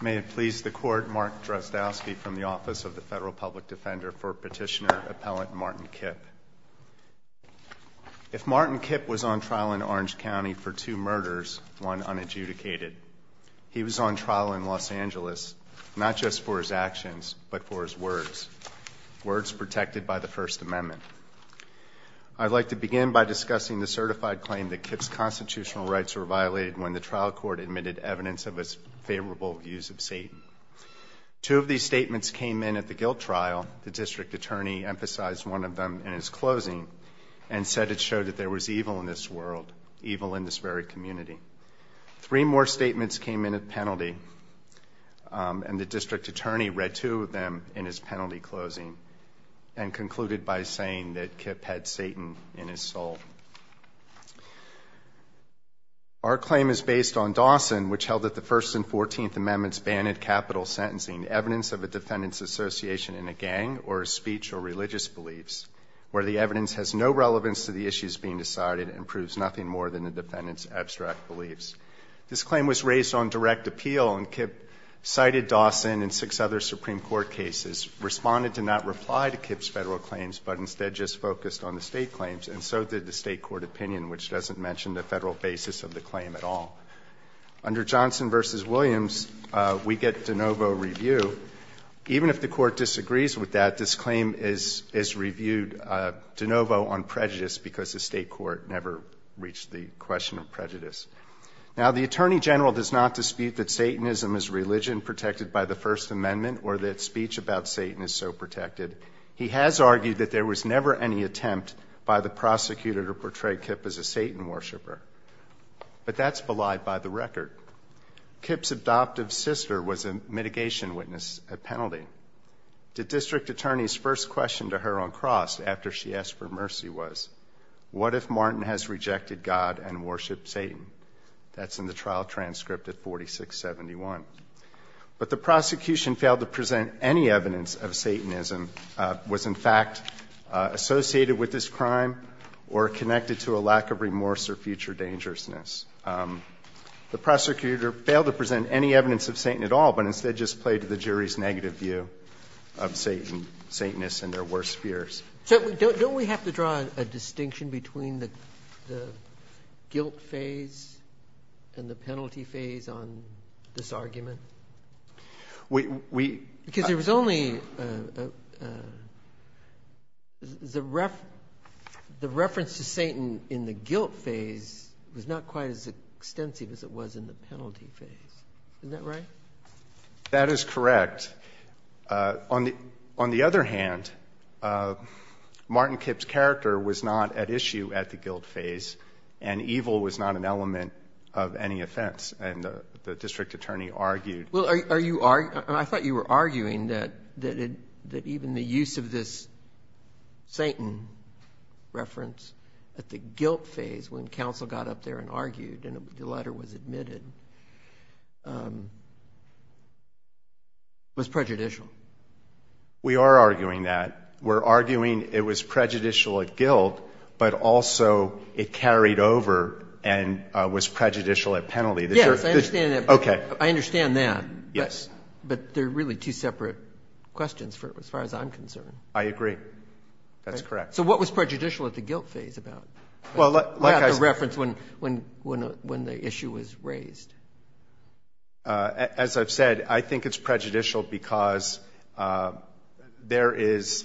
May it please the Court, Mark Drozdowski from the Office of the Federal Public Defender for Petitioner Appellant Martin Kipp. If Martin Kipp was on trial in Orange County for two murders, one unadjudicated, he was on trial in Los Angeles, not just for his actions, but for his words, words protected by the First Amendment. I would like to begin by discussing the certified claim that Kipp's constitutional rights were violated when the trial court admitted evidence of his favorable views of Satan. Two of these statements came in at the guilt trial. The district attorney emphasized one of them in his closing and said it showed that there was evil in this world, evil in this very community. Three more statements came in at penalty, and the district attorney read two of them in his penalty closing and concluded by saying that Kipp had Satan in his soul. Our claim is based on Dawson, which held that the First and Fourteenth Amendments banned capital sentencing evidence of a defendant's association in a gang or speech or religious beliefs where the evidence has no relevance to the issues being decided and proves nothing more than the defendant's abstract beliefs. This claim was raised on direct appeal, and Kipp cited Dawson and six other Supreme Court cases, responded to not reply to Kipp's Federal claims, but instead just focused on the State claims, and so did the State court opinion, which doesn't mention the Federal basis of the claim at all. Under Johnson v. Williams, we get de novo review. Even if the Court disagrees with that, this claim is reviewed de novo on prejudice because the State court never reached the question of prejudice. Now the Attorney General does not dispute that Satanism is religion protected by the First Amendment or that speech about Satan is so protected. He has argued that there was never any attempt by the prosecutor to portray Kipp as a Satan worshiper, but that's belied by the record. Kipp's adoptive sister was a mitigation witness at penalty. The District Attorney's first question to her on Cross after she asked for mercy was, what if Martin has rejected God and worshiped Satan? That's in the trial transcript at 4671. But the prosecution failed to present any evidence of Satanism, was in fact associated with this crime or connected to a lack of remorse or future dangerousness. The prosecutor failed to present any evidence of Satan at all, but instead just played to the jury's negative view of Satan, Satanists and their worst fears. So don't we have to draw a distinction between the guilt phase and the penalty phase on this argument? Because there was only, the reference to Satan in the guilt phase was not quite as extensive as it was in the penalty phase, isn't that right? That is correct. On the other hand, Martin Kipp's character was not at issue at the guilt phase and evil was not an element of any offense and the District Attorney argued. Well, are you arguing, I thought you were arguing that even the use of this Satan reference at the guilt phase when counsel got up there and argued and the letter was admitted was prejudicial. We are arguing that. We're arguing it was prejudicial at guilt, but also it carried over and was prejudicial at penalty. Yes, I understand that. Okay. I understand that. Yes. But they're really two separate questions as far as I'm concerned. I agree. That's correct. So what was prejudicial at the guilt phase about the reference when the issue was raised? As I've said, I think it's prejudicial because there is,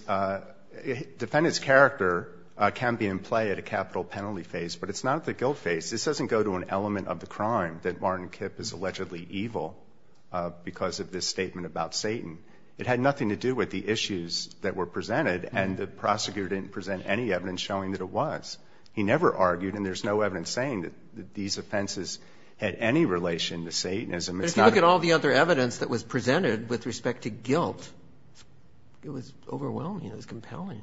defendant's character can be in play at a capital penalty phase, but it's not at the guilt phase. This doesn't go to an element of the crime that Martin Kipp is allegedly evil because of this statement about Satan. It had nothing to do with the issues that were presented and the prosecutor didn't present any evidence showing that it was. He never argued and there's no evidence saying that these offenses had any relation to Satanism. If you look at all the other evidence that was presented with respect to guilt, it was overwhelming. It was compelling.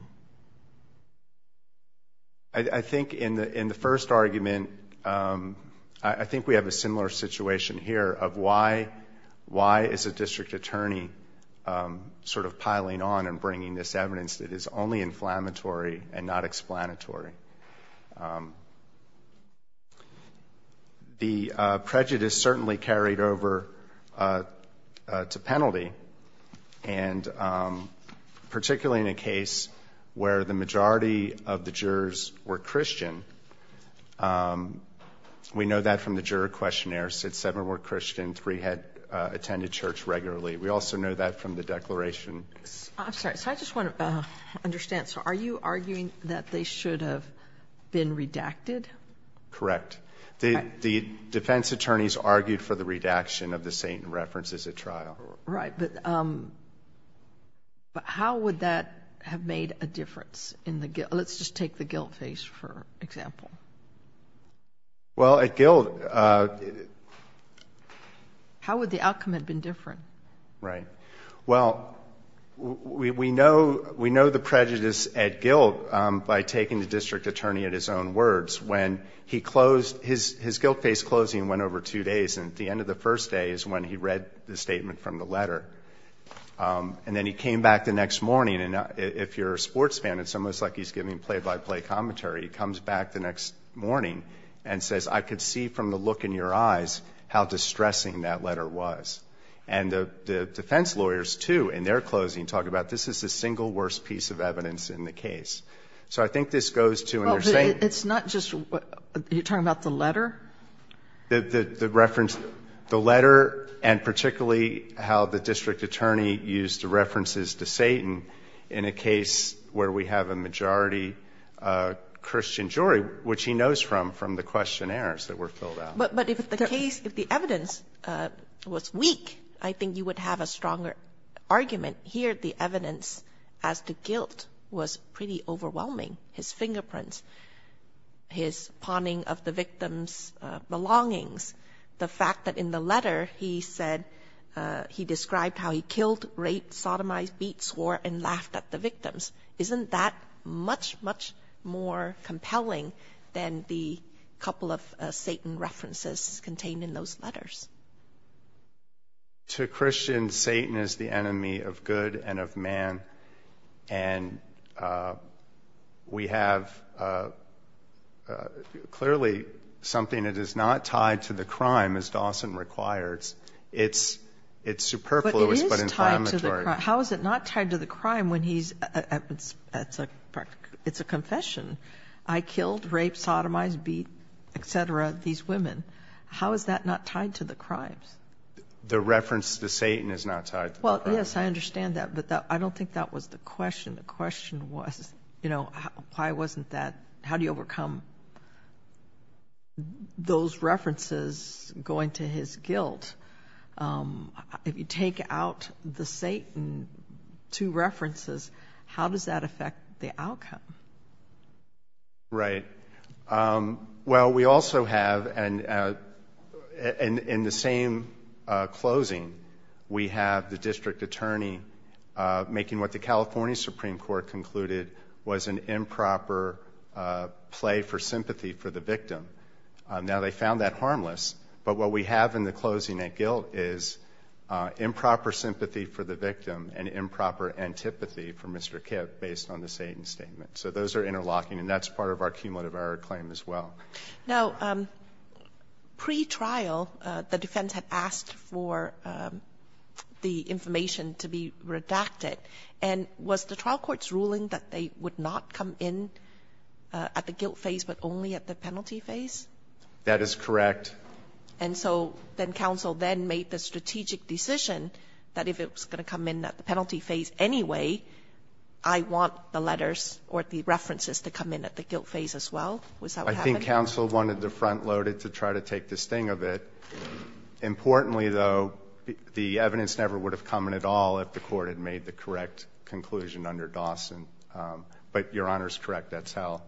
I think in the first argument, I think we have a similar situation here of why is a district attorney sort of piling on and bringing this evidence that is only inflammatory and not explanatory. The prejudice certainly carried over to penalty and particularly in a case where the majority of the jurors were Christian. We know that from the juror questionnaire, said seven were Christian, three had attended church regularly. We also know that from the declaration. I'm sorry. I just want to understand. Are you arguing that they should have been redacted? Correct. The defense attorneys argued for the redaction of the Satan references at trial. Right, but how would that have made a difference in the guilt? Let's just take the guilt phase for example. Well at guilt... How would the outcome have been different? Right. Well, we know the prejudice at guilt by taking the district attorney at his own words when he closed, his guilt phase closing went over two days and at the end of the first day is when he read the statement from the letter. And then he came back the next morning and if you're a sports fan, it's almost like he's giving play-by-play commentary. He comes back the next morning and says, I could see from the look in your eyes how distressing that letter was. And the defense lawyers too in their closing talk about this is the single worst piece of evidence in the case. So I think this goes to... It's not just... You're talking about the letter? The letter and particularly how the district attorney used the references to Satan in a case where we have a majority Christian jury, which he knows from the questionnaires that were filled out. But if the case, if the evidence was weak, I think you would have a stronger argument here. The evidence as to guilt was pretty overwhelming. His fingerprints, his pawning of the victim's belongings, the fact that in the letter he said he described how he killed, raped, sodomized, beat, swore and laughed at the victims. Isn't that much, much more compelling than the couple of Satan references contained in those letters? To Christians, Satan is the enemy of good and of man. And we have clearly something that is not tied to the crime as Dawson requires. It's superfluous but inflammatory. How is it not tied to the crime when he's... It's a confession. I killed, raped, sodomized, beat, et cetera, these women. How is that not tied to the crimes? The reference to Satan is not tied to the crime. Well, yes, I understand that, but I don't think that was the question. The question was, you know, why wasn't that... How do you overcome those references going to his guilt? If you take out the Satan, two references, how does that affect the outcome? Right. Well, we also have, in the same closing, we have the district attorney making what the California Supreme Court concluded was an improper play for sympathy for the victim. Now they found that harmless, but what we have in the closing at guilt is improper sympathy for the victim and improper antipathy for Mr. Kipp based on the Satan statement. So those are interlocking, and that's part of our cumulative error claim as well. Now, pre-trial, the defense had asked for the information to be redacted. And was the trial court's ruling that they would not come in at the guilt phase but only at the penalty phase? That is correct. And so then counsel then made the strategic decision that if it was going to come in at the penalty phase anyway, I want the letters or the references to come in at the guilt phase as well? Was that what happened? I think counsel wanted to front load it to try to take the sting of it. Importantly, though, the evidence never would have come in at all if the court had made the correct conclusion under Dawson. But Your Honor is correct. That's how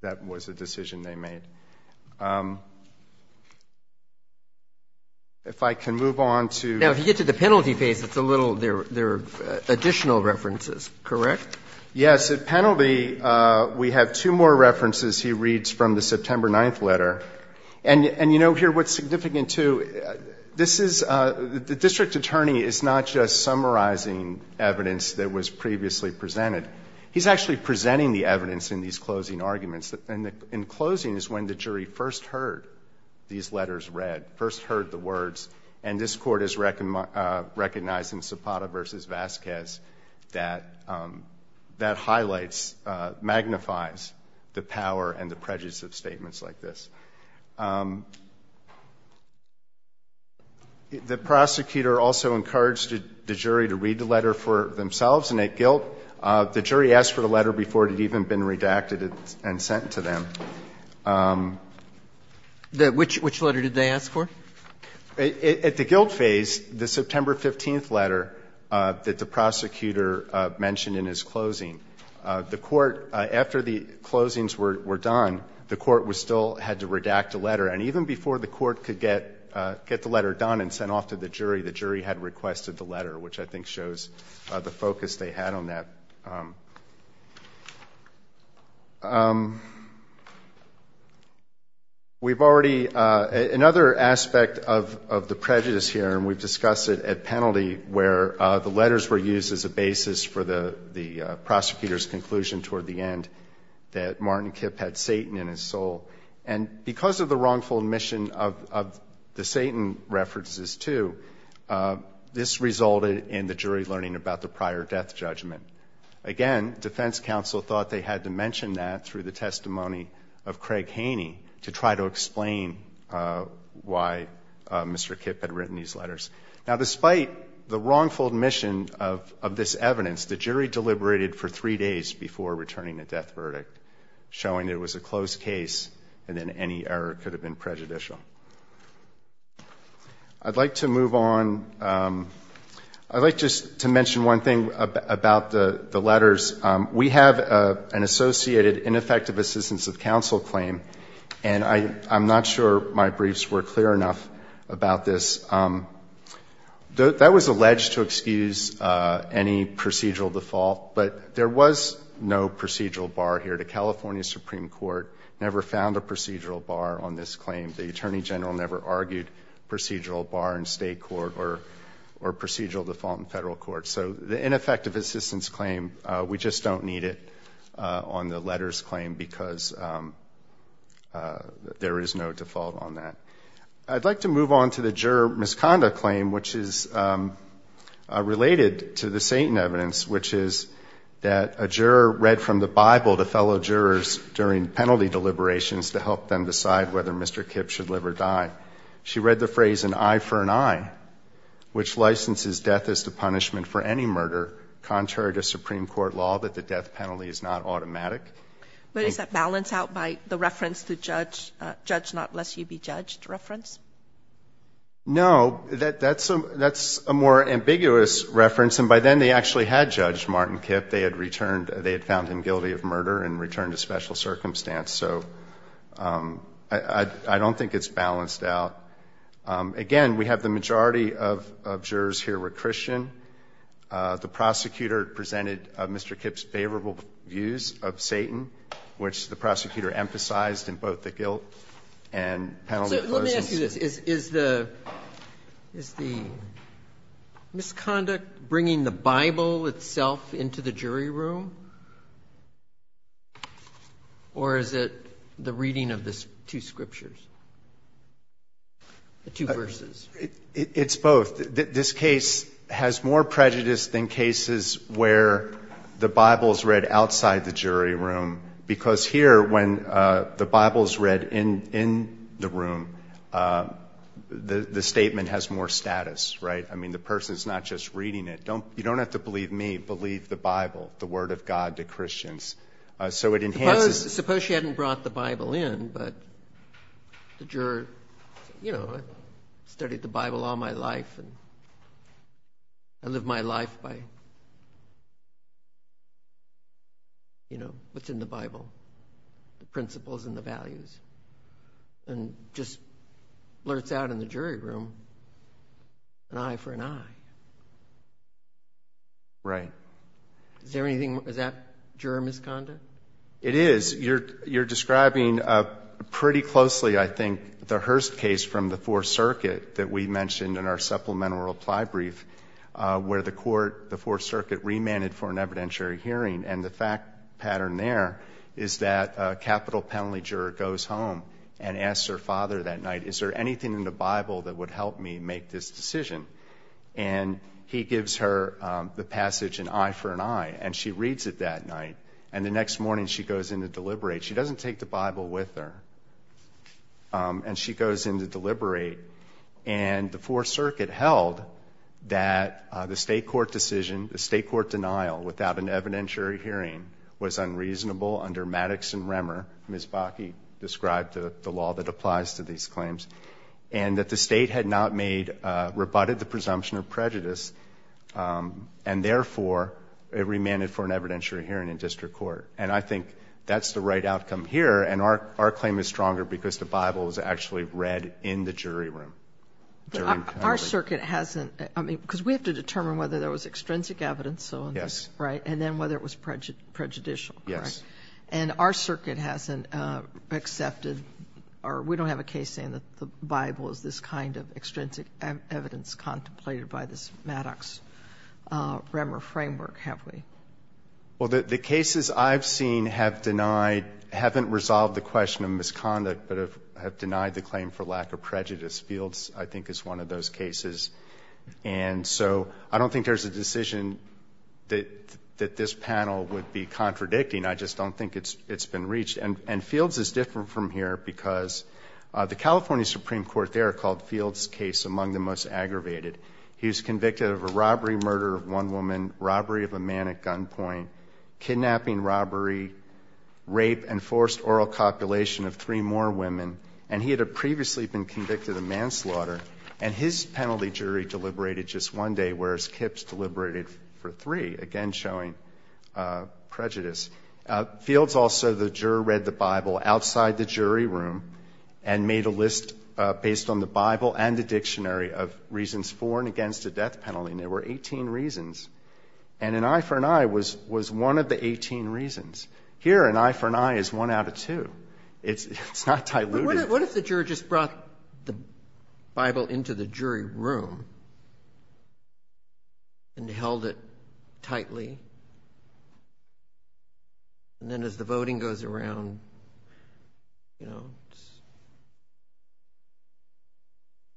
that was the decision they made. If I can move on to the penalty phase, there are additional references, correct? Yes. At penalty, we have two more references he reads from the September 9th letter. And you know here what's significant, too? This is the district attorney is not just summarizing evidence that was previously presented. He's actually presenting the evidence in these closing arguments. And in closing is when the jury first heard these letters read, first heard the words, and this Court is recognizing Zapata v. Vasquez that that highlights, magnifies the power and the prejudice of statements like this. The prosecutor also encouraged the jury to read the letter for themselves and at guilt. The jury asked for the letter before it had even been redacted and sent to them. Which letter did they ask for? At the guilt phase, the September 15th letter that the prosecutor mentioned in his closing, the Court, after the closings were done, the Court was still had to read the letter. And even before the Court could get the letter done and sent off to the jury, the jury had requested the letter, which I think shows the focus they had on that. We've already, another aspect of the prejudice here, and we've discussed it at penalty, where the letters were used as a basis for the prosecutor's conclusion toward the end that Martin Kipp had Satan in his soul. And because of the wrongful admission of the Satan references too, this resulted in the jury learning about the prior death judgment. Again, defense counsel thought they had to mention that through the testimony of Craig Haney to try to explain why Mr. Kipp had written these letters. Now, despite the wrongful admission of this evidence, the jury deliberated for three days before returning a death verdict, showing it was a closed case and then any error could have been prejudicial. I'd like to move on, I'd like just to mention one thing about the letters. We have an associated ineffective assistance of counsel claim, and I'm not sure my briefs were clear enough about this. That was alleged to excuse any procedural default, but there was no procedural bar here. The California Supreme Court never found a procedural bar on this claim. The Attorney General never argued procedural bar in state court or procedural default in federal court. So the ineffective assistance claim, we just don't need it on the letters claim because there is no default on that. I'd like to move on to the juror misconduct claim, which is related to the Satan evidence, which is that a juror read from the Bible to fellow jurors during penalty deliberations to help them decide whether Mr. Kipp should live or die. She read the phrase, an eye for an eye, which licenses death as the punishment for any murder, contrary to Supreme Court law that the death penalty is not automatic. But is that balanced out by the reference to judge not lest you be judged reference? No, that's a more ambiguous reference, and by then they actually had judged Martin Kipp. They had found him guilty of murder and returned to special circumstance. So I don't think it's balanced out. Again, we have the majority of jurors here were Christian. The prosecutor presented Mr. Kipp's favorable views of Satan, which the prosecutor emphasized in both the guilt and penalty clauses. So let me ask you this. Is the misconduct bringing the Bible itself into the jury room, or is it the reading of the two scriptures, the two verses? It's both. This case has more prejudice than cases where the Bible is read outside the jury room, because here when the Bible is read in the room, the statement has more status, right? I mean, the person is not just reading it. You don't have to believe me. Believe the Bible, the word of God to Christians. So it enhances. Suppose she hadn't brought the Bible in, but the juror, you know, I've studied the Bible all my life, and I live my life by, you know, what's in the Bible, the principles and the values, and just blurts out in the jury room, an eye for an eye. Right. Is there anything, is that juror misconduct? It is. You're describing pretty closely, I think, the Hearst case from the Fourth Circuit that we mentioned in our supplemental reply brief, where the court, the Fourth Circuit, remanded for an evidentiary hearing. And the fact pattern there is that a capital penalty juror goes home and asks her father that night, is there anything in the Bible that would help me make this decision? And he gives her the passage, an eye for an eye, and she reads it that night. And the next morning she goes in to deliberate. She doesn't take the Bible with her. And she goes in to deliberate, and the Fourth Circuit held that the state court decision, the state court denial without an evidentiary hearing was unreasonable under Maddox and Remmer. Ms. Bakke described the law that applies to these claims. And that the state had not made, rebutted the presumption of prejudice, and therefore, it remanded for an evidentiary hearing in district court. And I think that's the right outcome here. And our claim is stronger because the Bible is actually read in the jury room. Our circuit hasn't, I mean, because we have to determine whether there was extrinsic evidence, so, right? And then whether it was prejudicial. Yes. And our circuit hasn't accepted, or we don't have a case saying that the Bible is this kind of extrinsic evidence contemplated by this Maddox-Remmer framework, have we? Well, the cases I've seen have denied, haven't resolved the question of misconduct, but have denied the claim for lack of prejudice. Fields, I think, is one of those cases. And so, I don't think there's a decision that this panel would be contradicting. I just don't think it's been reached. And Fields is different from here because the California Supreme Court there called Fields' case among the most aggravated. He was convicted of a robbery, murder of one woman, robbery of a man at gunpoint, kidnapping, robbery, rape, and forced oral copulation of three more women. And he had previously been convicted of manslaughter. And his penalty jury deliberated just one day, whereas Kipp's deliberated for three, again, showing prejudice. Fields also, the juror, read the Bible outside the jury room and made a list based on the Bible and the dictionary of reasons for and against the death penalty. And there were 18 reasons. And an eye for an eye was one of the 18 reasons. Here, an eye for an eye is one out of two. It's not diluted. What if the juror just brought the Bible into the jury room and held it tightly? And then as the voting goes around, you know,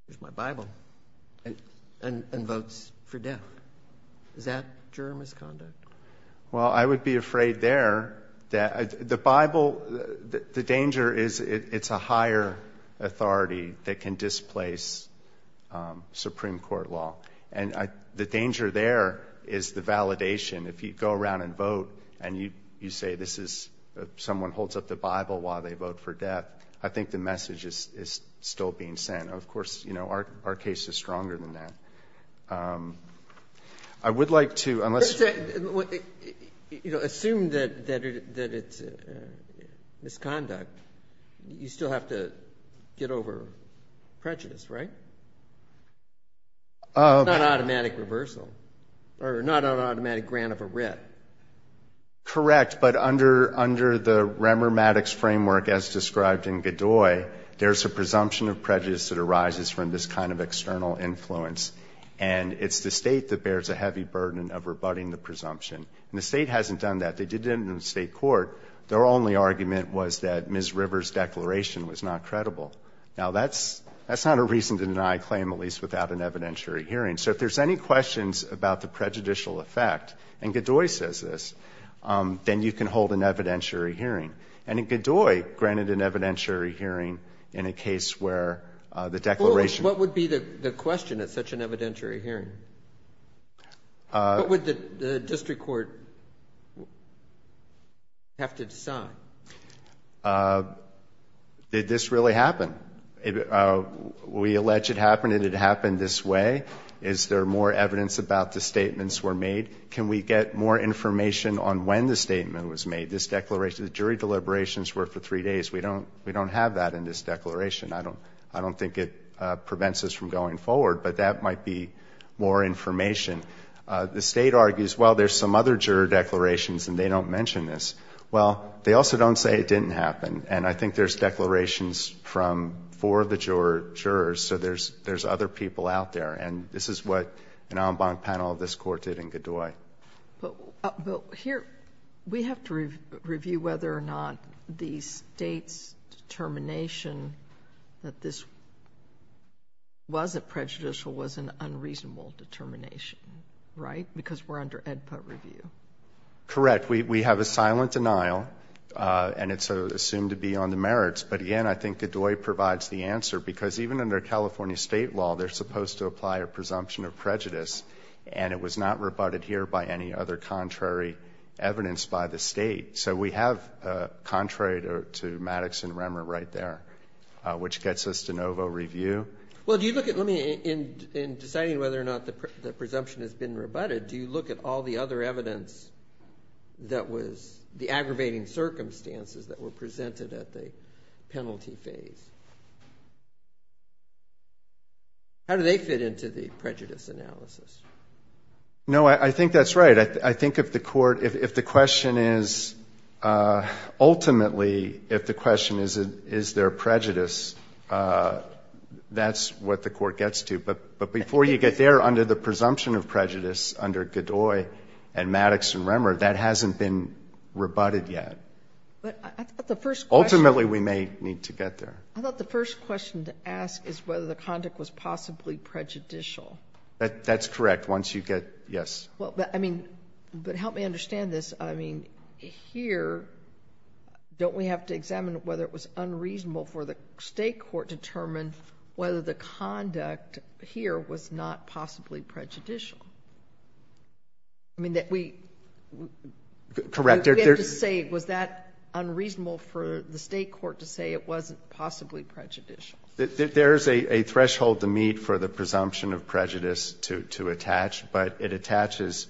here's my Bible and votes for death. Is that juror misconduct? Well, I would be afraid there that the Bible, the danger is it's a higher authority that can displace Supreme Court law. And the danger there is the validation. If you go around and vote and you say this is someone holds up the Bible while they vote for death, I think the message is still being sent. Of course, you know, our case is stronger than that. I would like to, unless... Assume that it's misconduct, you still have to get over prejudice, right? It's not an automatic reversal or not an automatic grant of a writ. Correct, but under the Remer Maddox framework, as described in Godoy, there's a presumption of prejudice that arises from this kind of external influence. And it's the State that bears a heavy burden of rebutting the presumption. And the State hasn't done that. They did it in the State court. Their only argument was that Ms. Rivers' declaration was not credible. Now, that's not a reason to deny a claim, at least without an evidentiary hearing. So if there's any questions about the prejudicial effect, and Godoy says this, then you can hold an evidentiary hearing. And Godoy granted an evidentiary hearing in a case where the declaration... What would be the question at such an evidentiary hearing? What would the district court have to decide? Did this really happen? We allege it happened and it happened this way. Is there more evidence about the statements were made? Can we get more information on when the statement was made? This declaration, the jury deliberations were for three days. We don't have that in this declaration. I don't think it prevents us from going forward, but that might be more information. The State argues, well, there's some other juror declarations and they don't mention this. Well, they also don't say it didn't happen. And I think there's declarations from four of the jurors. So there's other people out there. And this is what an en banc panel of this court did in Godoy. But here, we have to review whether or not the State's determination that this wasn't prejudicial was an unreasonable determination, right? Because we're under AEDPA review. Correct. We have a silent denial and it's assumed to be on the merits. But again, I think Godoy provides the answer because even under California State law, they're supposed to apply a presumption of prejudice and it was not rebutted here by any other contrary evidence by the State. So we have contrary to Maddox and Remmer right there, which gets us to Novo Review. Well, do you look at, let me, in deciding whether or not the presumption has been rebutted, do you look at all the other evidence that was, the aggravating circumstances that were presented at the penalty phase? How do they fit into the prejudice analysis? No, I think that's right. I think if the court, if the question is, ultimately, if the question is, is there prejudice, that's what the court gets to. But before you get there, under the presumption of prejudice under Godoy and Maddox and Remmer, that hasn't been rebutted yet. But I thought the first question. Ultimately, we may need to get there. I thought the first question to ask is whether the conduct was possibly prejudicial. That's correct. Once you get, yes. Well, but I mean, but help me understand this. I mean, here, don't we have to examine whether it was unreasonable for the State Court to determine whether the conduct here was not possibly prejudicial? I mean, that we. Correct. We have to say, was that unreasonable for the State Court to say it wasn't possibly prejudicial? There's a threshold to meet for the presumption of prejudice to attach, but it attaches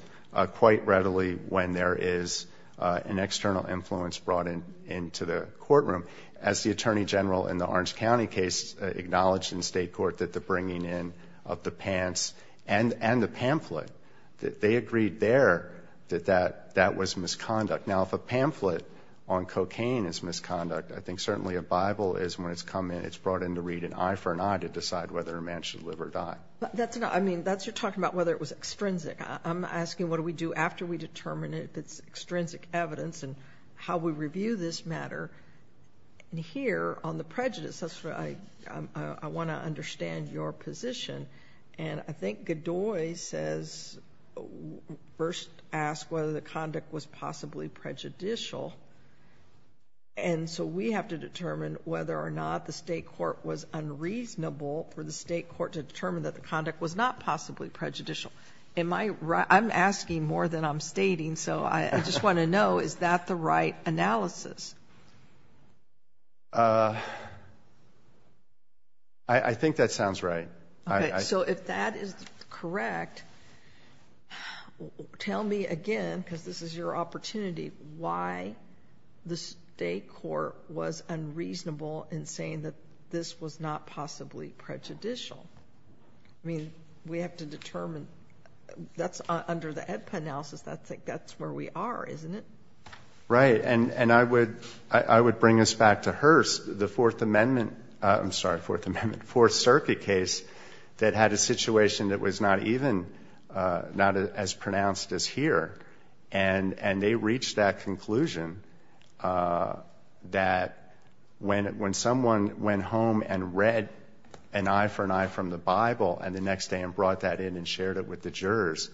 quite readily when there is an external influence brought in into the courtroom. As the attorney general in the Orange County case acknowledged in state court that the bringing in of the pants and the pamphlet, that they agreed there that that was misconduct. Now, if a pamphlet on cocaine is misconduct, I think certainly a Bible is when it's come in, it's brought in to read an eye for an eye to decide whether a man should live or die. That's not, I mean, that's you're talking about whether it was extrinsic. I'm asking what do we do after we determine if it's extrinsic evidence and how we review this matter and here on the prejudice, that's where I want to understand your position. And I think Godoy says, first ask whether the conduct was possibly prejudicial. And so we have to determine whether or not the state court was unreasonable for the state court to determine that the conduct was not possibly prejudicial. Am I right? I'm asking more than I'm stating. So I just want to know, is that the right analysis? I think that sounds right. So if that is correct, tell me again, because this is your opportunity, why the state court was unreasonable in saying that this was not possibly prejudicial. I mean, we have to determine that's under the EDPA analysis. That's where we are, isn't it? Right. And I would bring us back to Hearst, the Fourth Amendment, I'm sorry, Fourth Amendment, Fourth Circuit case that had a situation that was not even, not as pronounced as here, and they reached that conclusion that when someone went home and read an eye for an eye from the Bible, and the next day and brought that in and shared it with the jurors,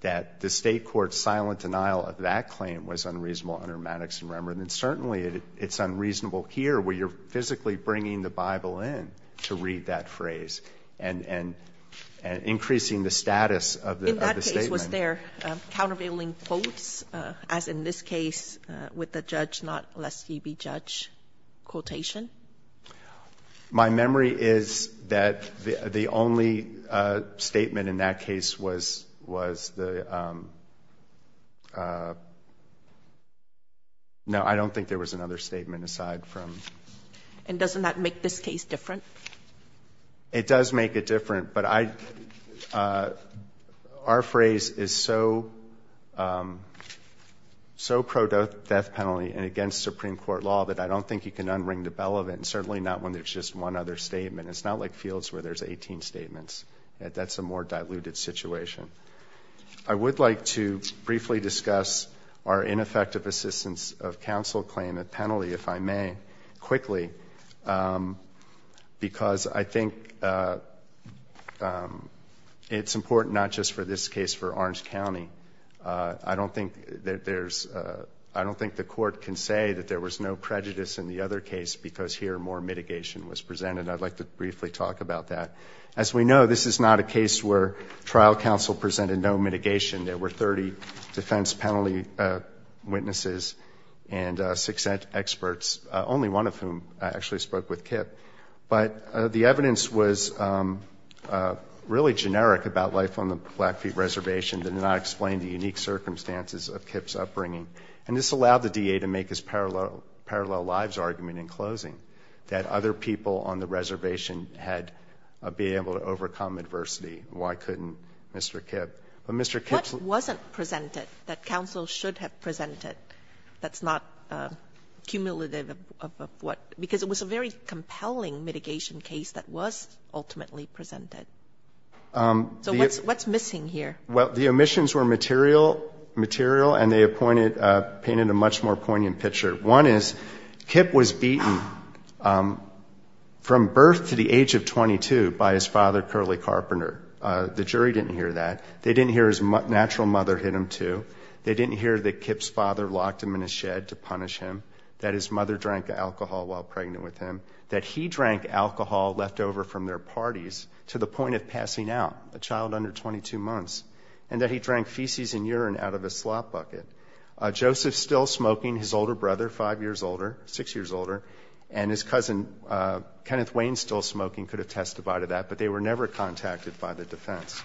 that the state court's silent denial of that claim was unreasonable under Maddox and Rembrandt. And certainly it's unreasonable here where you're physically bringing the Bible in to read that phrase and increasing the status of the statement. In that case, was there countervailing quotes, as in this case with the judge, not lest he be judge quotation? My memory is that the only statement in that case was the, no, I don't think there was another statement aside from. And doesn't that make this case different? It does make it different, but I, our phrase is so, so pro-death penalty and against Supreme Court law that I don't think you can unring the bell of it, and certainly not when there's just one other statement. It's not like fields where there's 18 statements. That's a more diluted situation. I would like to briefly discuss our ineffective assistance of counsel claim, a penalty, if I may, quickly, because I think it's important not just for this case, for Orange County. I don't think there's, I don't think the court can say that there was no prejudice in the other case because here more mitigation was presented. I'd like to briefly talk about that. As we know, this is not a case where trial counsel presented no mitigation. There were 30 defense penalty witnesses and success experts, only one of whom actually spoke with Kip. But the evidence was really generic about life on the Blackfeet Reservation. It did not explain the unique circumstances of Kip's upbringing. And this allowed the DA to make his parallel lives argument in closing, that other people on the reservation had been able to overcome adversity. Why couldn't Mr. Kip? But Mr. Kip's lawyer wasn't presented, that counsel should have presented. That's not cumulative of what, because it was a very compelling mitigation case that was ultimately presented. So what's missing here? Well, the omissions were material, material, and they pointed, painted a much more poignant picture. One is Kip was beaten from birth to the age of 22 by his father, Curley Carpenter. The jury didn't hear that. They didn't hear his natural mother hit him, too. They didn't hear that Kip's father locked him in a shed to punish him, that his mother drank alcohol while pregnant with him, that he drank alcohol left over from their parties to the point of passing out, a child under 22 months, and that he drank feces and urine out of a slop bucket. Joseph still smoking, his older brother, five years older, six years older, and his cousin, Kenneth Wayne, still smoking, could have testified to that, but they were never contacted by the defense.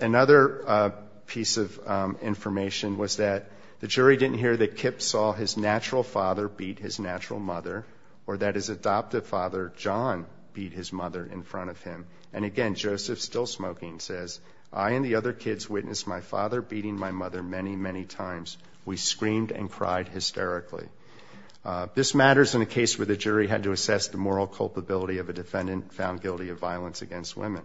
Another piece of information was that the jury didn't hear that Kip saw his natural father beat his natural mother or that his adoptive father, John, beat his mother in front of him. And again, Joseph still smoking says, I and the other kids witnessed my father beating my mother many, many times. We screamed and cried hysterically. This matters in a case where the jury had to assess the moral culpability of a defendant found guilty of violence against women.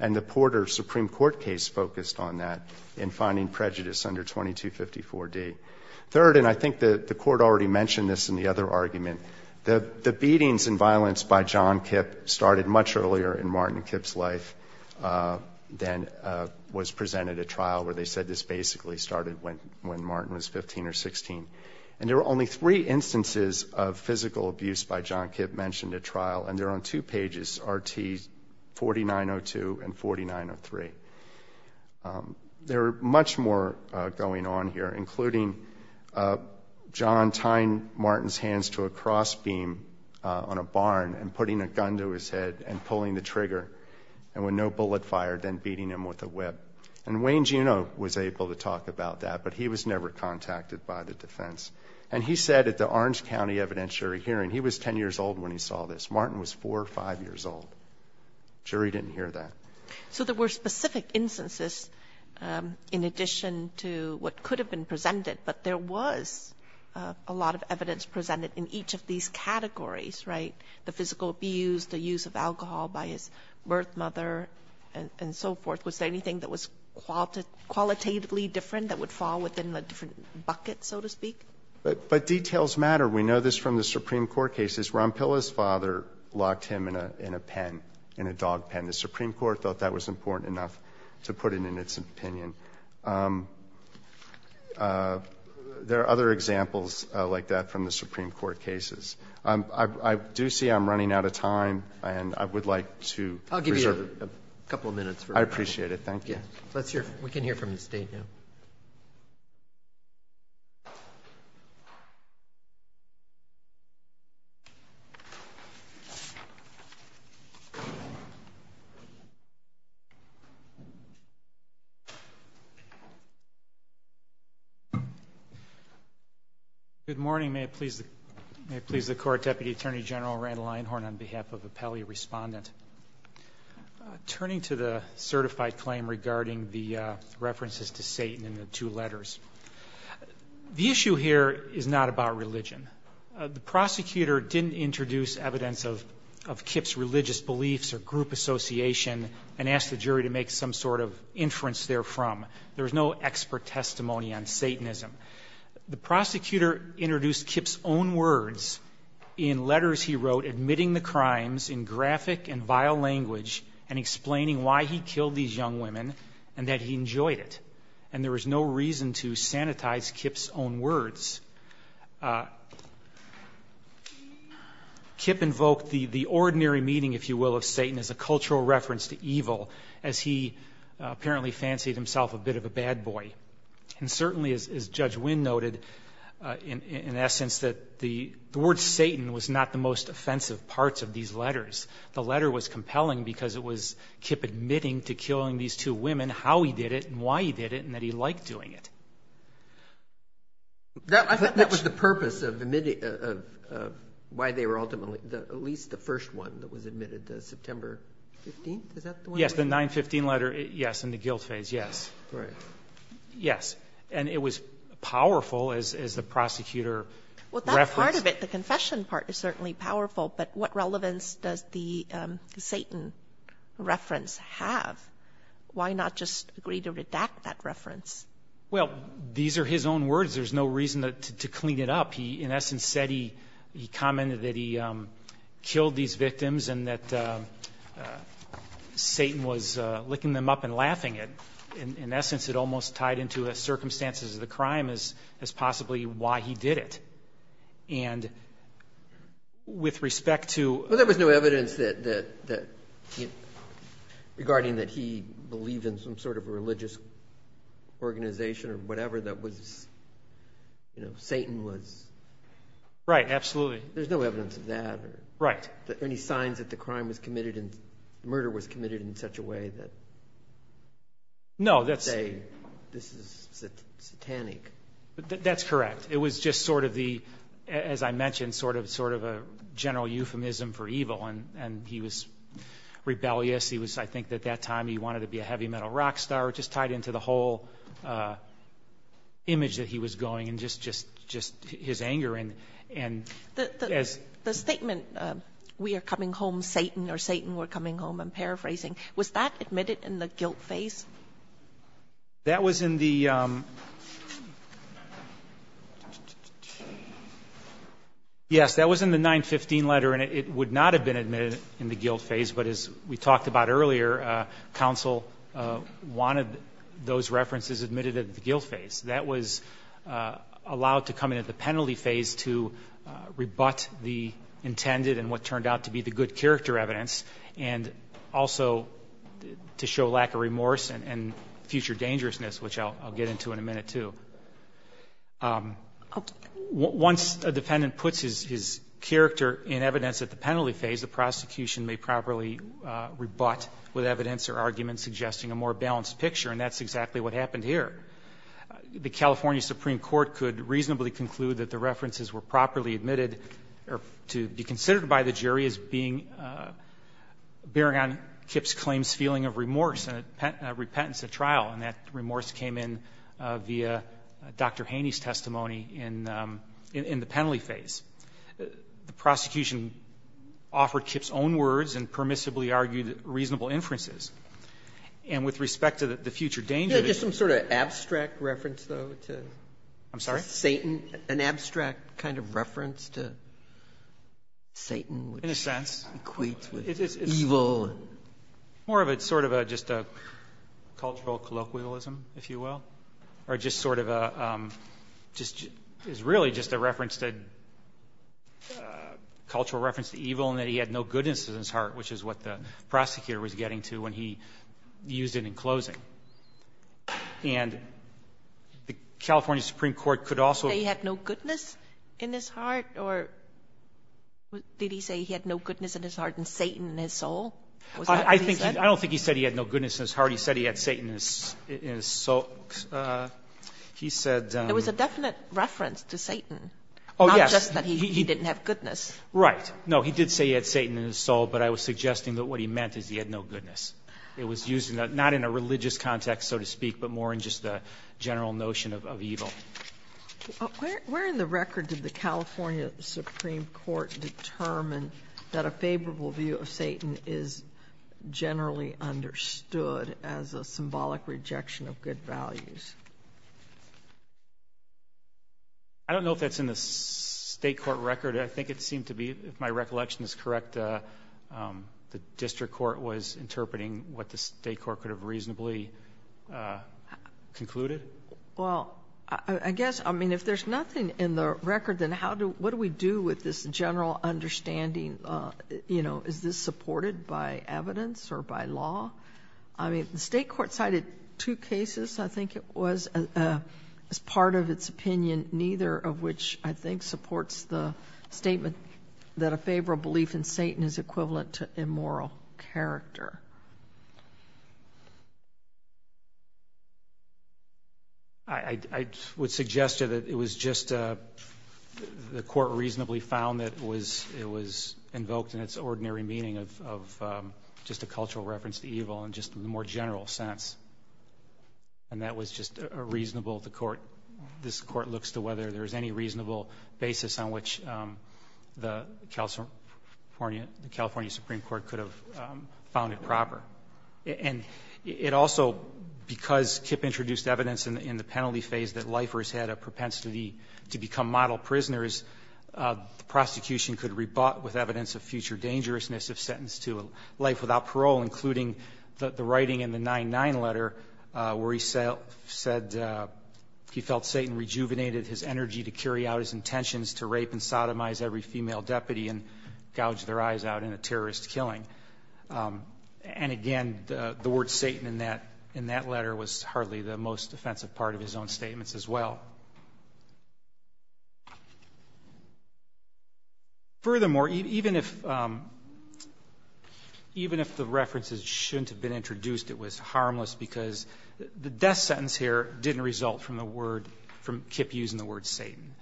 And the Porter Supreme Court case focused on that in finding prejudice under 2254D. Third, and I think the court already mentioned this in the other argument, the beatings and violence by John Kip started much earlier in Martin Kip's life than was presented at trial where they said this basically started when Martin was 15 or 16. And there were only three instances of physical abuse by John Kip mentioned at trial, and There are much more going on here, including John tying Martin's hands to a crossbeam on a barn and putting a gun to his head and pulling the trigger and when no bullet fired, then beating him with a whip. And Wayne Juneau was able to talk about that, but he was never contacted by the defense. And he said at the Orange County evidentiary hearing, he was 10 years old when he saw this. Martin was four or five years old. Jury didn't hear that. So there were specific instances in addition to what could have been presented. But there was a lot of evidence presented in each of these categories, right? The physical abuse, the use of alcohol by his birth mother, and so forth. Was there anything that was qualitatively different that would fall within a different bucket, so to speak? But details matter. We know this from the Supreme Court cases. Ron Pilla's father locked him in a pen, in a dog pen. The Supreme Court thought that was important enough to put it in its opinion. There are other examples like that from the Supreme Court cases. I do see I'm running out of time, and I would like to preserve- I'll give you a couple of minutes for- I appreciate it, thank you. Let's hear, we can hear from the state now. Good morning, may it please the court. Deputy Attorney General Randall Einhorn on behalf of Appellee Respondent. Turning to the certified claim regarding the references to Satan in the two letters. The issue here is not about religion. The prosecutor didn't introduce evidence of Kip's religious beliefs or group association and ask the jury to make some sort of inference therefrom. There's no expert testimony on Satanism. The prosecutor introduced Kip's own words in letters he wrote, admitting the crimes in graphic and vile language and explaining why he killed these young women and that he enjoyed it. And there was no reason to sanitize Kip's own words. Kip invoked the ordinary meaning, if you will, of Satan as a cultural reference to evil, as he apparently fancied himself a bit of a bad boy. And certainly, as Judge Wynn noted, in essence that the word Satan was not the most offensive parts of these letters. The letter was compelling because it was Kip admitting to killing these two women, how he did it, and why he did it, and that he liked doing it. That was the purpose of why they were ultimately, at least the first one that was admitted to September 15th, is that the one? Yes, the 915 letter. Yes. In the guilt phase. Yes. Right. Yes. And it was powerful as the prosecutor referenced. Well, that part of it, the confession part is certainly powerful. But what relevance does the Satan reference have? Why not just agree to redact that reference? Well, these are his own words. There's no reason to clean it up. He, in essence, said he commented that he killed these victims and that Satan was licking them up and laughing at them. In essence, it almost tied into the circumstances of the crime as possibly why he did it. And with respect to- Well, there was no evidence regarding that he believed in some sort of a religious organization or whatever that Satan was- Right, absolutely. There's no evidence of that. Right. Any signs that the murder was committed in such a way that- No, that's- This is satanic. That's correct. It was just sort of the, as I mentioned, sort of a general euphemism for evil. And he was rebellious. He was, I think at that time, he wanted to be a heavy metal rock star. It just tied into the whole image that he was going and just his anger and as- The statement, we are coming home, Satan, or Satan, we're coming home, I'm paraphrasing, was that admitted in the guilt phase? That was in the- Yes, that was in the 915 letter and it would not have been admitted in the guilt phase, but as we talked about earlier, counsel wanted those references admitted at the guilt phase. That was allowed to come in at the penalty phase to rebut the intended and what turned out to be the good character evidence and also to show lack of remorse and future dangerousness, which I'll get into in a minute, too. Once a defendant puts his character in evidence at the penalty phase, the prosecution may properly rebut with evidence or argument suggesting a more balanced picture, and that's exactly what happened here. The California Supreme Court could reasonably conclude that the references were properly admitted or to be considered by the jury as being, bearing on Kip's claim's feeling of remorse and repentance at trial, and that remorse came in via Dr. Haney's testimony in the penalty phase. The prosecution offered Kip's own words and permissibly argued reasonable inferences, and with respect to the future danger- Yeah, just some sort of abstract reference, though, to- I'm sorry? Satan, an abstract kind of reference to Satan- In a sense. Equates with evil. More of a sort of a just a cultural colloquialism, if you will, or just sort of a is really just a reference to, cultural reference to evil, and that he had no goodness in his heart, which is what the prosecutor was getting to when he used it in closing. And the California Supreme Court could also- He had no goodness in his heart, or did he say he had no goodness in his heart and Satan in his soul? I don't think he said he had no goodness in his heart. He said he had Satan in his soul. He said- It was a definite reference to Satan, not just that he didn't have goodness. Right. No, he did say he had Satan in his soul, but I was suggesting that what he meant is he had no goodness. It was used not in a religious context, so to speak, but more in just a general notion of evil. Where in the record did the California Supreme Court determine that a favorable view of Satan is generally understood as a symbolic rejection of good values? I don't know if that's in the state court record. I think it seemed to be, if my recollection is correct, the district court was interpreting what the state court could have reasonably concluded. Well, I guess, I mean, if there's nothing in the record, then how do- general understanding, you know, is this supported by evidence or by law? I mean, the state court cited two cases, I think it was, as part of its opinion, neither of which I think supports the statement that a favorable belief in Satan is equivalent to immoral character. I would suggest that it was just the court reasonably found that it was invoked in its ordinary meaning of just a cultural reference to evil and just in a more general sense. And that was just a reasonable, the court, this court looks to whether there's any reasonable basis on which the California Supreme Court could have found it improper. And it also, because Kip introduced evidence in the penalty phase that lifers had a propensity to become model prisoners, the prosecution could rebut with evidence of future dangerousness if sentenced to life without parole, including the writing in the 9-9 letter where he said he felt Satan rejuvenated his energy to carry out his intentions to rape and sodomize every female deputy and gouge their eyes out in a terrorist killing. And again, the word Satan in that letter was hardly the most offensive part of his own statements as well. Furthermore, even if the references shouldn't have been introduced, it was harmless because the death sentence here didn't result from the word, from Kip using the word Satan.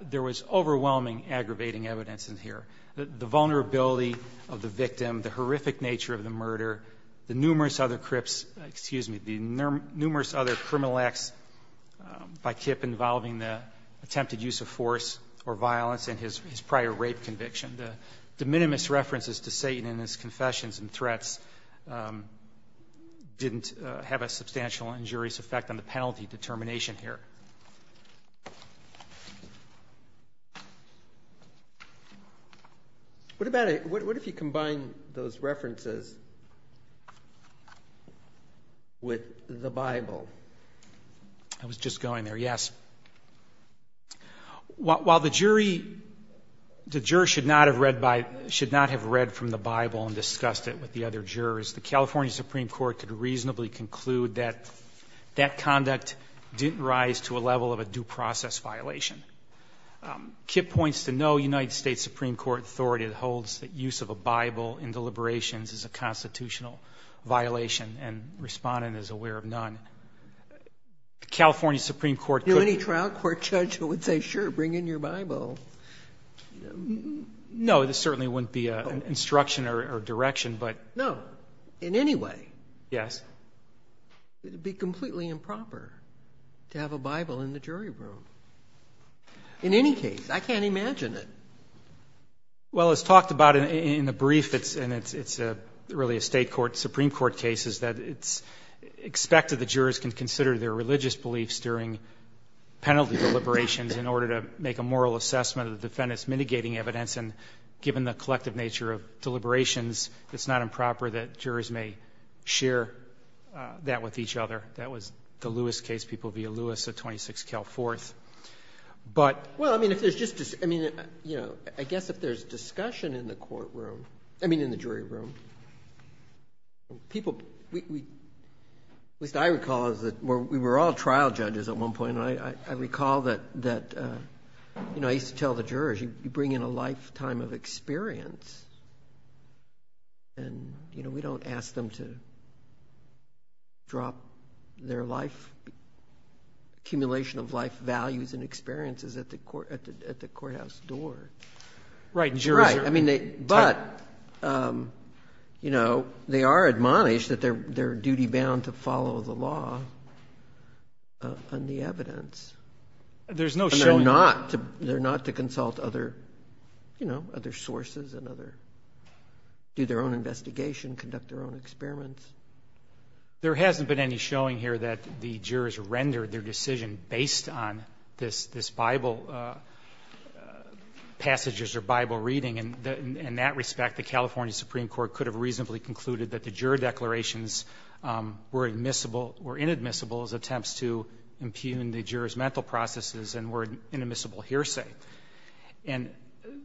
There was overwhelming aggravating evidence in here. The vulnerability of the victim, the horrific nature of the murder, the numerous other crips, excuse me, the numerous other criminal acts by Kip involving the attempted use of force or violence in his prior rape conviction. The de minimis references to Satan in his confessions and threats didn't have a substantial injurious effect on the penalty determination here. What about, what if you combine those references with the Bible? I was just going there. Yes. While the jury, the juror should not have read by, should not have read from the Bible and discussed it with the other jurors, the California Supreme Court could reasonably conclude that that conduct didn't rise to a level of a due process violation. Um, Kip points to no United States Supreme Court authority that holds that use of a Bible in deliberations is a constitutional violation. And respondent is aware of none. California Supreme Court, any trial court judge would say, sure, bring in your Bible. No, this certainly wouldn't be a instruction or direction, but no, in any way. Yes. It'd be completely improper to have a Bible in the jury room. In any case, I can't imagine it. Well, it's talked about in the brief, it's, and it's, it's a really a state court, Supreme Court cases that it's expected the jurors can consider their religious beliefs during penalty deliberations in order to make a moral assessment of the defendants mitigating evidence. And given the collective nature of deliberations, it's not improper that jurors may share that with each other. That was the Lewis case. People via Lewis at 26 Cal fourth. But well, I mean, if there's just, I mean, you know, I guess if there's discussion in the courtroom, I mean, in the jury room, people, we, we, at least I recall is that we were all trial judges at one point. And I, I, I recall that, that, uh, you know, I used to tell the jurors, you bring in a lifetime of experience and, you know, we don't ask them to drop their life. Accumulation of life values and experiences at the court, at the, at the courthouse door. Right. Right. I mean, they, but, um, you know, they are admonished that they're, they're duty bound to follow the law, uh, and the evidence. And there's no showing. And they're not to, they're not to consult other, you know, other sources and other, do their own investigation, conduct their own experiments. There hasn't been any showing here that the jurors rendered their decision based on this, this Bible, uh, uh, passages or Bible reading. And in that respect, the California Supreme Court could have reasonably concluded that the juror declarations, um, were admissible or inadmissible as attempts to impugn the jurors' mental processes and were inadmissible hearsay. And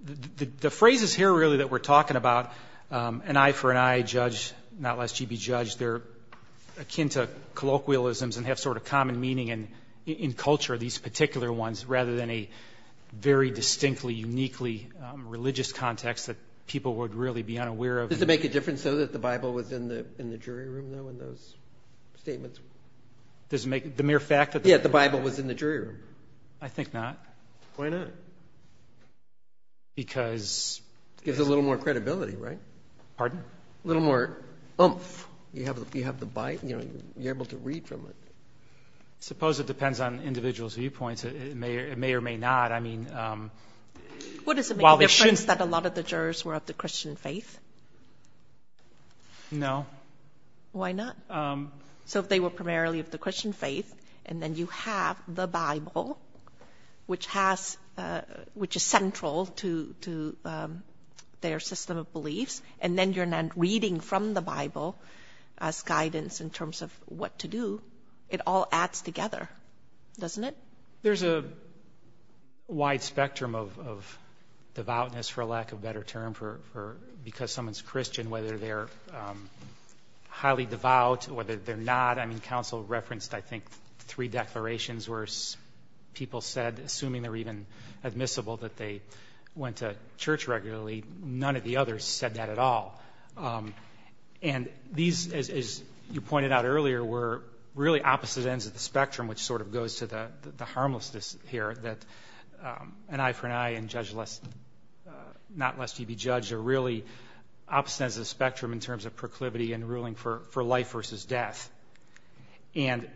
the, the, the phrases here really that we're talking about, um, an eye for an eye judge, not lest ye be judged, they're akin to colloquialisms and have sort of common meaning in, in culture, these particular ones, rather than a very distinctly, uniquely, um, religious context that people would really be unaware of. Does it make a difference though that the Bible was in the, in the jury room though in those statements? Does it make, the mere fact that... Yeah, the Bible was in the jury room. I think not. Why not? Because... Gives a little more credibility, right? Pardon? A little more oomph. You have, you have the Bible, you know, you're able to read from it. Suppose it depends on individual's viewpoints. It may or may not. I mean, um... What does it make a difference that a lot of the jurors were of the Christian faith? No. Why not? So if they were primarily of the Christian faith, and then you have the Bible, which reading from the Bible as guidance in terms of what to do, it all adds together, doesn't it? There's a wide spectrum of, of devoutness, for lack of a better term, for, for, because someone's Christian, whether they're, um, highly devout, whether they're not. I mean, counsel referenced, I think, three declarations where people said, assuming they're even admissible, that they went to church regularly. None of the others said that at all. And these, as, as you pointed out earlier, were really opposite ends of the spectrum, which sort of goes to the, the harmlessness here that, um, an eye for an eye and judge less, uh, not lest ye be judged, are really opposite ends of the spectrum in terms of proclivity and ruling for, for life versus death. And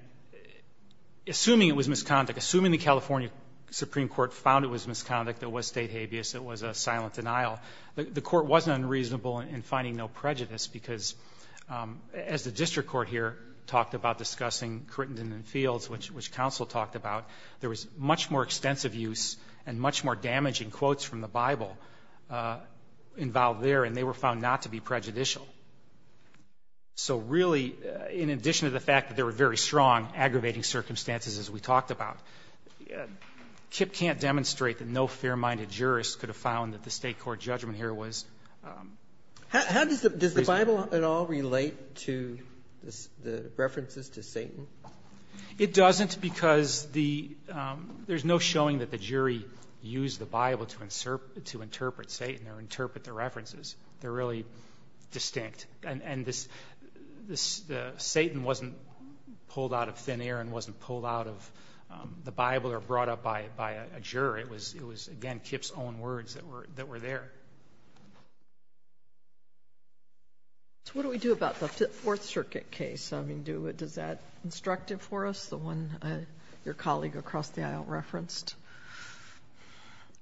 assuming it was misconduct, assuming the California Supreme Court found it was misconduct, it was state habeas, it was a silent denial, the court wasn't unreasonable in finding no prejudice, because, um, as the district court here talked about discussing Crittenden and Fields, which, which counsel talked about, there was much more extensive use and much more damaging quotes from the Bible, uh, involved there, and they were found not to be prejudicial. So really, in addition to the fact that there were very strong aggravating circumstances, as we talked about, uh, KIPP can't demonstrate that no fair-minded jurist could have found that the state court judgment here was, um... How does the, does the Bible at all relate to the, the references to Satan? It doesn't because the, um, there's no showing that the jury used the Bible to insert, to interpret Satan or interpret the references. They're really distinct, and, and this, this, uh, Satan wasn't pulled out of thin air and wasn't pulled out of, um, the Bible or brought up by, by a juror. It was, it was, again, KIPP's own words that were, that were there. So what do we do about the Fifth, Fourth Circuit case? I mean, do, does that instructive for us, the one, uh, your colleague across the aisle referenced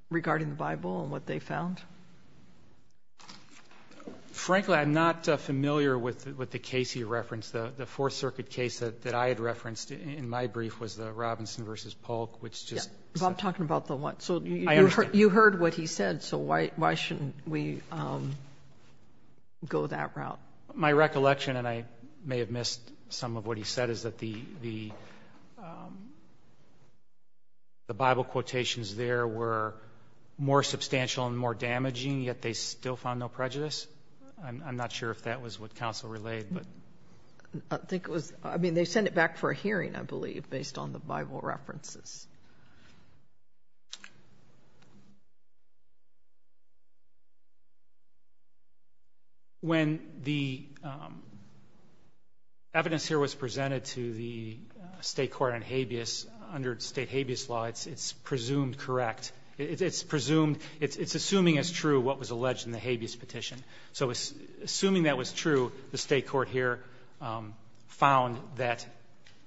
regarding the Bible and what they found? Frankly, I'm not, uh, familiar with, with the case you referenced. The, the Fourth Circuit case that, that I had referenced in my brief was the Robinson versus Polk, which just... Yeah, but I'm talking about the one, so... I understand. You heard what he said. So why, why shouldn't we, um, go that route? My recollection, and I may have missed some of what he said, is that the, the, um, the Bible quotations there were more substantial and more damaging, yet they still found no prejudice. I'm not sure if that was what counsel relayed, but... I think it was, I mean, they sent it back for a hearing, I believe, based on the Bible references. Um, when the, um, evidence here was presented to the state court on habeas under state habeas law, it's, it's presumed correct. It's, it's presumed, it's, it's assuming as true what was alleged in the habeas petition. So assuming that was true, the state court here, um, found that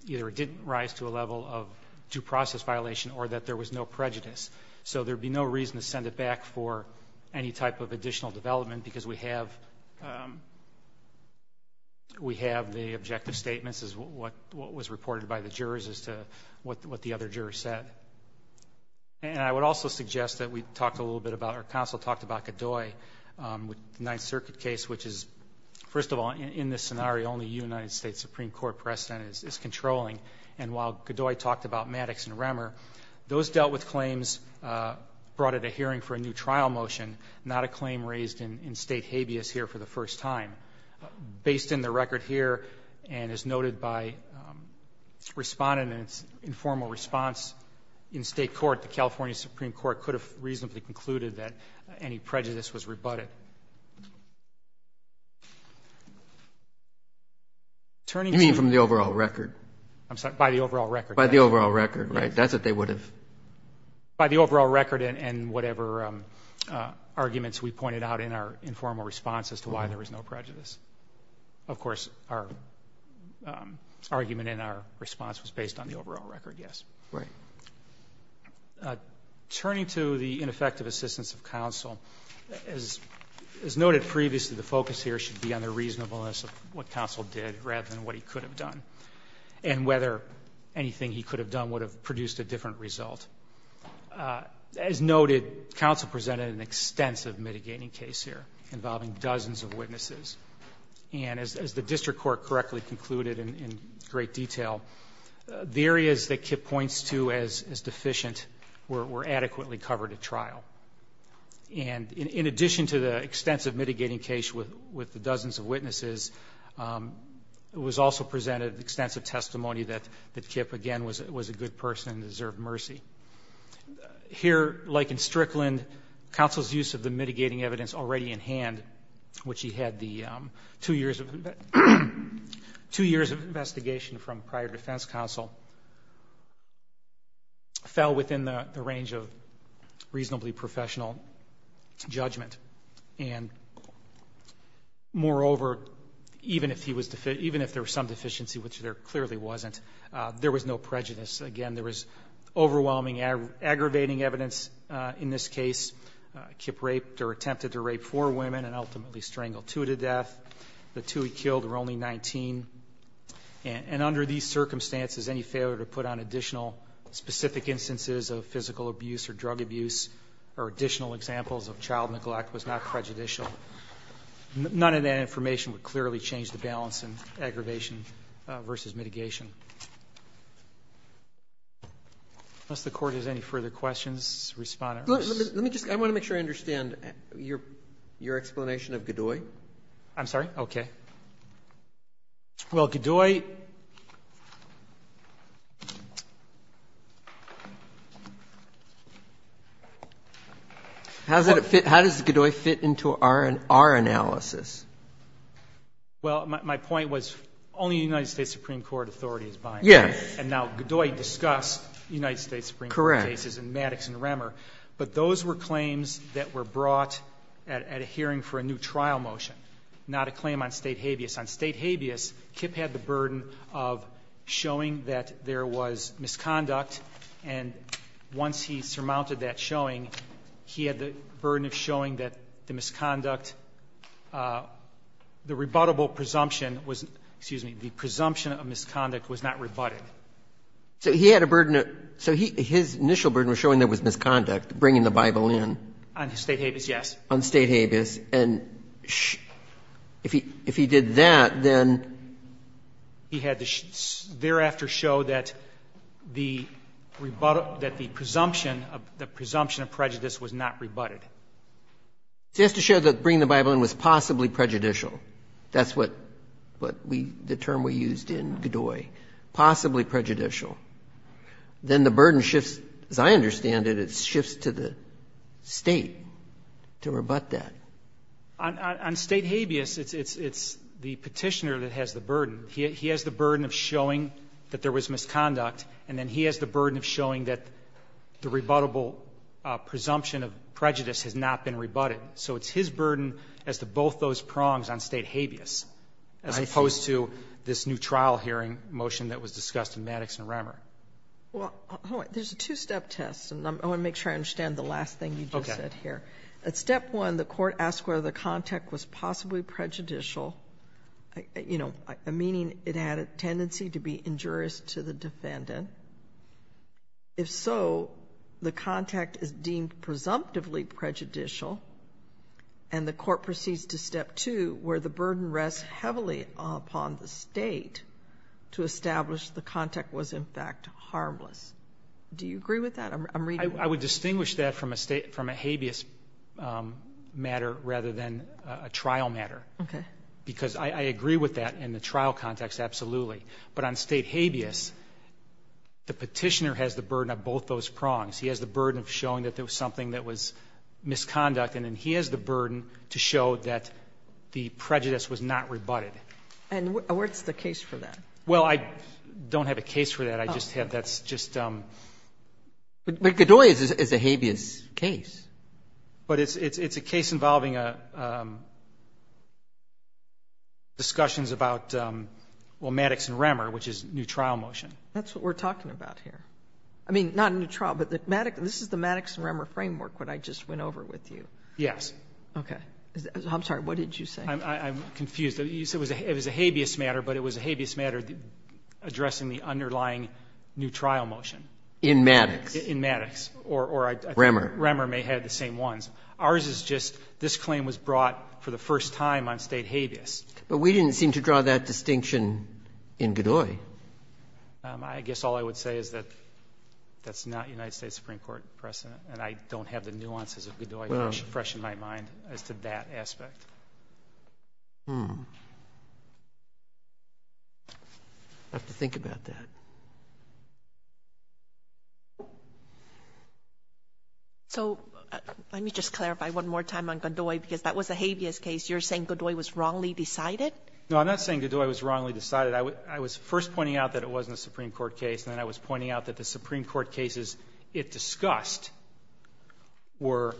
either it didn't rise to a level of due process violation or that there was no prejudice. So there'd be no reason to send it back for any type of additional development because we have, um, we have the objective statements as what, what was reported by the jurors as to what, what the other jurors said. And I would also suggest that we talked a little bit about, or counsel talked about Godoy, um, with the Ninth Circuit case, which is, first of all, in this scenario, only United States Supreme Court precedent is, is controlling. And while Godoy talked about Maddox and Remmer, those dealt with claims, uh, brought at a hearing for a new trial motion, not a claim raised in, in state habeas here for the first time. Based in the record here and as noted by, um, respondent in its informal response in state court, the California Supreme Court could have reasonably concluded that any prejudice was rebutted. Turning to... You mean from the overall record? By the overall record. By the overall record, right? That's what they would have. By the overall record and whatever, um, uh, arguments we pointed out in our informal response as to why there was no prejudice. Of course, our, um, argument in our response was based on the overall record. Yes. Right. Turning to the ineffective assistance of counsel, as, as noted previously, the focus here should be on the reasonableness of what counsel did rather than what he could have and whether anything he could have done would have produced a different result. As noted, counsel presented an extensive mitigating case here involving dozens of witnesses. And as, as the district court correctly concluded in, in great detail, the areas that Kip points to as, as deficient were, were adequately covered at trial. And in addition to the extensive mitigating case with, with the dozens of witnesses, um, it was also presented extensive testimony that, that Kip again was, was a good person, deserved mercy. Here, like in Strickland, counsel's use of the mitigating evidence already in hand, which he had the, um, two years of, two years of investigation from prior defense counsel fell within the range of reasonably professional judgment. And moreover, even if he was, even if there was some deficiency, which there clearly wasn't, uh, there was no prejudice. Again, there was overwhelming aggravating evidence, uh, in this case, uh, Kip raped or attempted to rape four women and ultimately strangled two to death. The two he killed were only 19. And under these circumstances, any failure to put on additional specific instances of neglect was not prejudicial. None of that information would clearly change the balance in aggravation, uh, versus mitigation. Unless the Court has any further questions, Respondent Russ. Let me just, I want to make sure I understand your, your explanation of Godoy. I'm sorry? Okay. Well, Godoy. How does it fit? How does Godoy fit into our, our analysis? Well, my point was only United States Supreme Court authority is binding. Yes. And now Godoy discussed United States Supreme Court cases and Maddox and Remmer, but those were claims that were brought at a hearing for a new trial motion, not a claim on state habeas. On state habeas, Kip had the burden of showing that there was misconduct. And once he surmounted that showing, he had the burden of showing that the misconduct, uh, the rebuttable presumption was, excuse me, the presumption of misconduct was not rebutted. So he had a burden of, so he, his initial burden was showing there was misconduct, bringing the Bible in? On state habeas, yes. On state habeas. And if he, if he did that, then he had to thereafter show that the rebuttal, that the presumption of, the presumption of prejudice was not rebutted. Just to show that bringing the Bible in was possibly prejudicial. That's what, what we, the term we used in Godoy, possibly prejudicial. Then the burden shifts. As I understand it, it shifts to the State to rebut that. On state habeas, it's, it's, it's the Petitioner that has the burden. He has the burden of showing that there was misconduct, and then he has the burden of showing that the rebuttable presumption of prejudice has not been rebutted. So it's his burden as to both those prongs on state habeas, as opposed to this new trial hearing motion that was discussed in Maddox and Remmer. Well, there's a two-step test, and I want to make sure I understand the last thing you just said here. At step one, the Court asks whether the contact was possibly prejudicial, you know, meaning it had a tendency to be injurious to the defendant. If so, the contact is deemed presumptively prejudicial, and the Court proceeds to step two, where the burden rests heavily upon the State to establish the contact was, in fact, harmless. Do you agree with that? I'm reading. I would distinguish that from a state, from a habeas matter rather than a trial matter. Okay. Because I agree with that in the trial context, absolutely. But on state habeas, the Petitioner has the burden of both those prongs. He has the burden of showing that there was something that was misconduct, and then he has the burden to show that the prejudice was not rebutted. And what's the case for that? Well, I don't have a case for that. I just have that's just um But Godoy is a habeas case. But it's a case involving discussions about, well, Maddox and Remmer, which is a new trial motion. That's what we're talking about here. I mean, not a new trial, but this is the Maddox and Remmer framework that I just went over with you. Yes. Okay. I'm sorry. What did you say? I'm confused. You said it was a habeas matter, but it was a habeas matter addressing the underlying new trial motion. In Maddox. In Maddox. Or I think Remmer may have the same ones. Ours is just this claim was brought for the first time on state habeas. But we didn't seem to draw that distinction in Godoy. I guess all I would say is that that's not United States Supreme Court precedent, and I don't have the nuances of Godoy fresh in my mind as to that aspect. I have to think about that. So let me just clarify one more time on Godoy, because that was a habeas case. You're saying Godoy was wrongly decided? No, I'm not saying Godoy was wrongly decided. I was first pointing out that it wasn't a Supreme Court case, and then I was pointing out that the Supreme Court cases it discussed were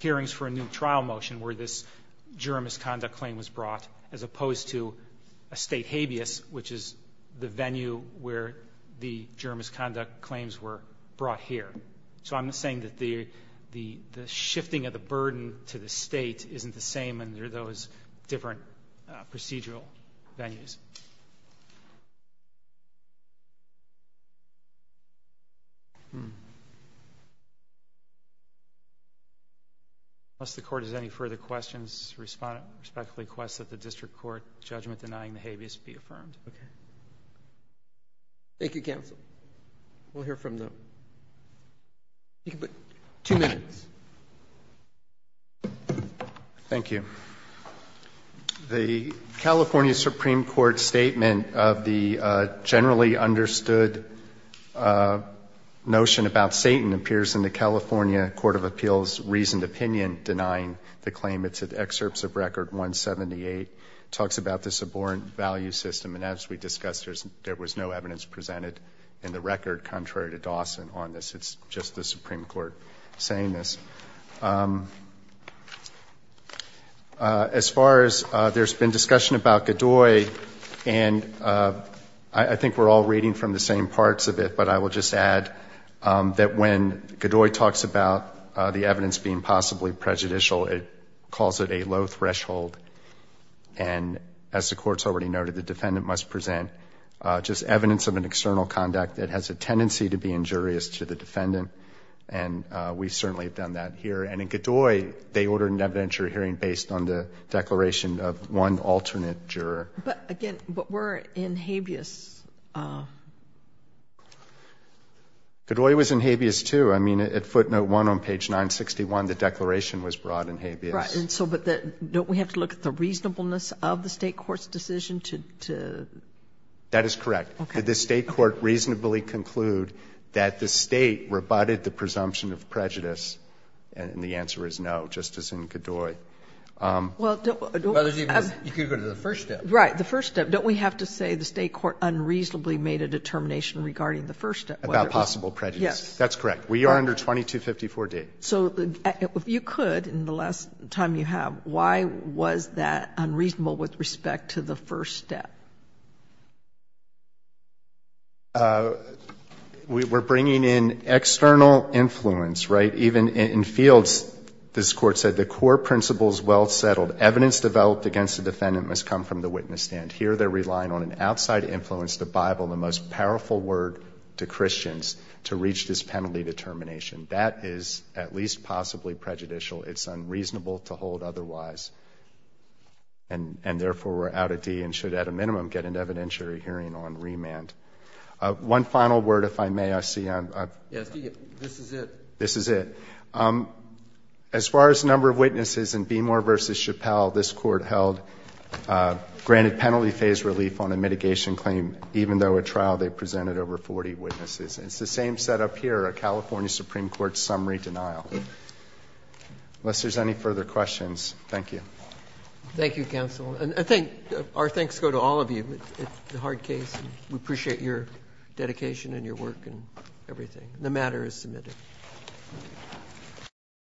hearings for a new trial motion where this juror misconduct claim was brought, as opposed to a state habeas, which is the venue where the juror misconduct claims were brought here. So I'm not saying that the shifting of the burden to the state isn't the same under those different procedural venues. Unless the Court has any further questions, respectfully request that the District Court judgment denying the habeas be affirmed. Okay. Thank you, counsel. We'll hear from them. You can put two minutes. Thank you. The California Supreme Court statement of the generally understood notion about Satan appears in the California Court of Appeals' reasoned opinion denying the claim. It's in excerpts of Record 178. It talks about the subordinate value system, and as we discussed, there was no evidence presented in the record contrary to Dawson on this. It's just the Supreme Court saying this. As far as there's been discussion about Godoy, and I think we're all reading from the same parts of it, but I will just add that when Godoy talks about the evidence being possibly prejudicial, it calls it a low threshold. And as the Court's already noted, the defendant must present just evidence of an external conduct that has a tendency to be injurious to the defendant, and we certainly have done that here. And in Godoy, they ordered an evidentiary hearing based on the declaration of one alternate juror. But again, but we're in habeas. Godoy was in habeas, too. I mean, at footnote 1 on page 961, the declaration was brought in habeas. Right. And so, but don't we have to look at the reasonableness of the State Court's decision to? That is correct. Did the State Court reasonably conclude that the State rebutted the presumption of prejudice, and the answer is no, just as in Godoy. Well, don't we have to say the State Court unreasonably made a determination regarding the first step. About possible prejudice. Yes. That's correct. We are under 2254d. So if you could, in the last time you have, why was that unreasonable with respect to the first step? We're bringing in external influence, right? Even in fields, this Court said, the core principles well settled. Evidence developed against the defendant must come from the witness stand. Here, they're relying on an outside influence, the Bible, the most powerful word to Christians to reach this penalty determination. That is at least possibly prejudicial. It's unreasonable to hold otherwise. One final word, if I may, I see. Yes, this is it. This is it. As far as number of witnesses in Beemore v. Chappell, this Court held granted penalty phase relief on a mitigation claim, even though at trial they presented over 40 witnesses. It's the same setup here, a California Supreme Court summary denial. Unless there's any further questions, thank you. Thank you, counsel. I think our thanks go to all of you. It's a hard case. We appreciate your dedication and your work and everything. The matter is submitted.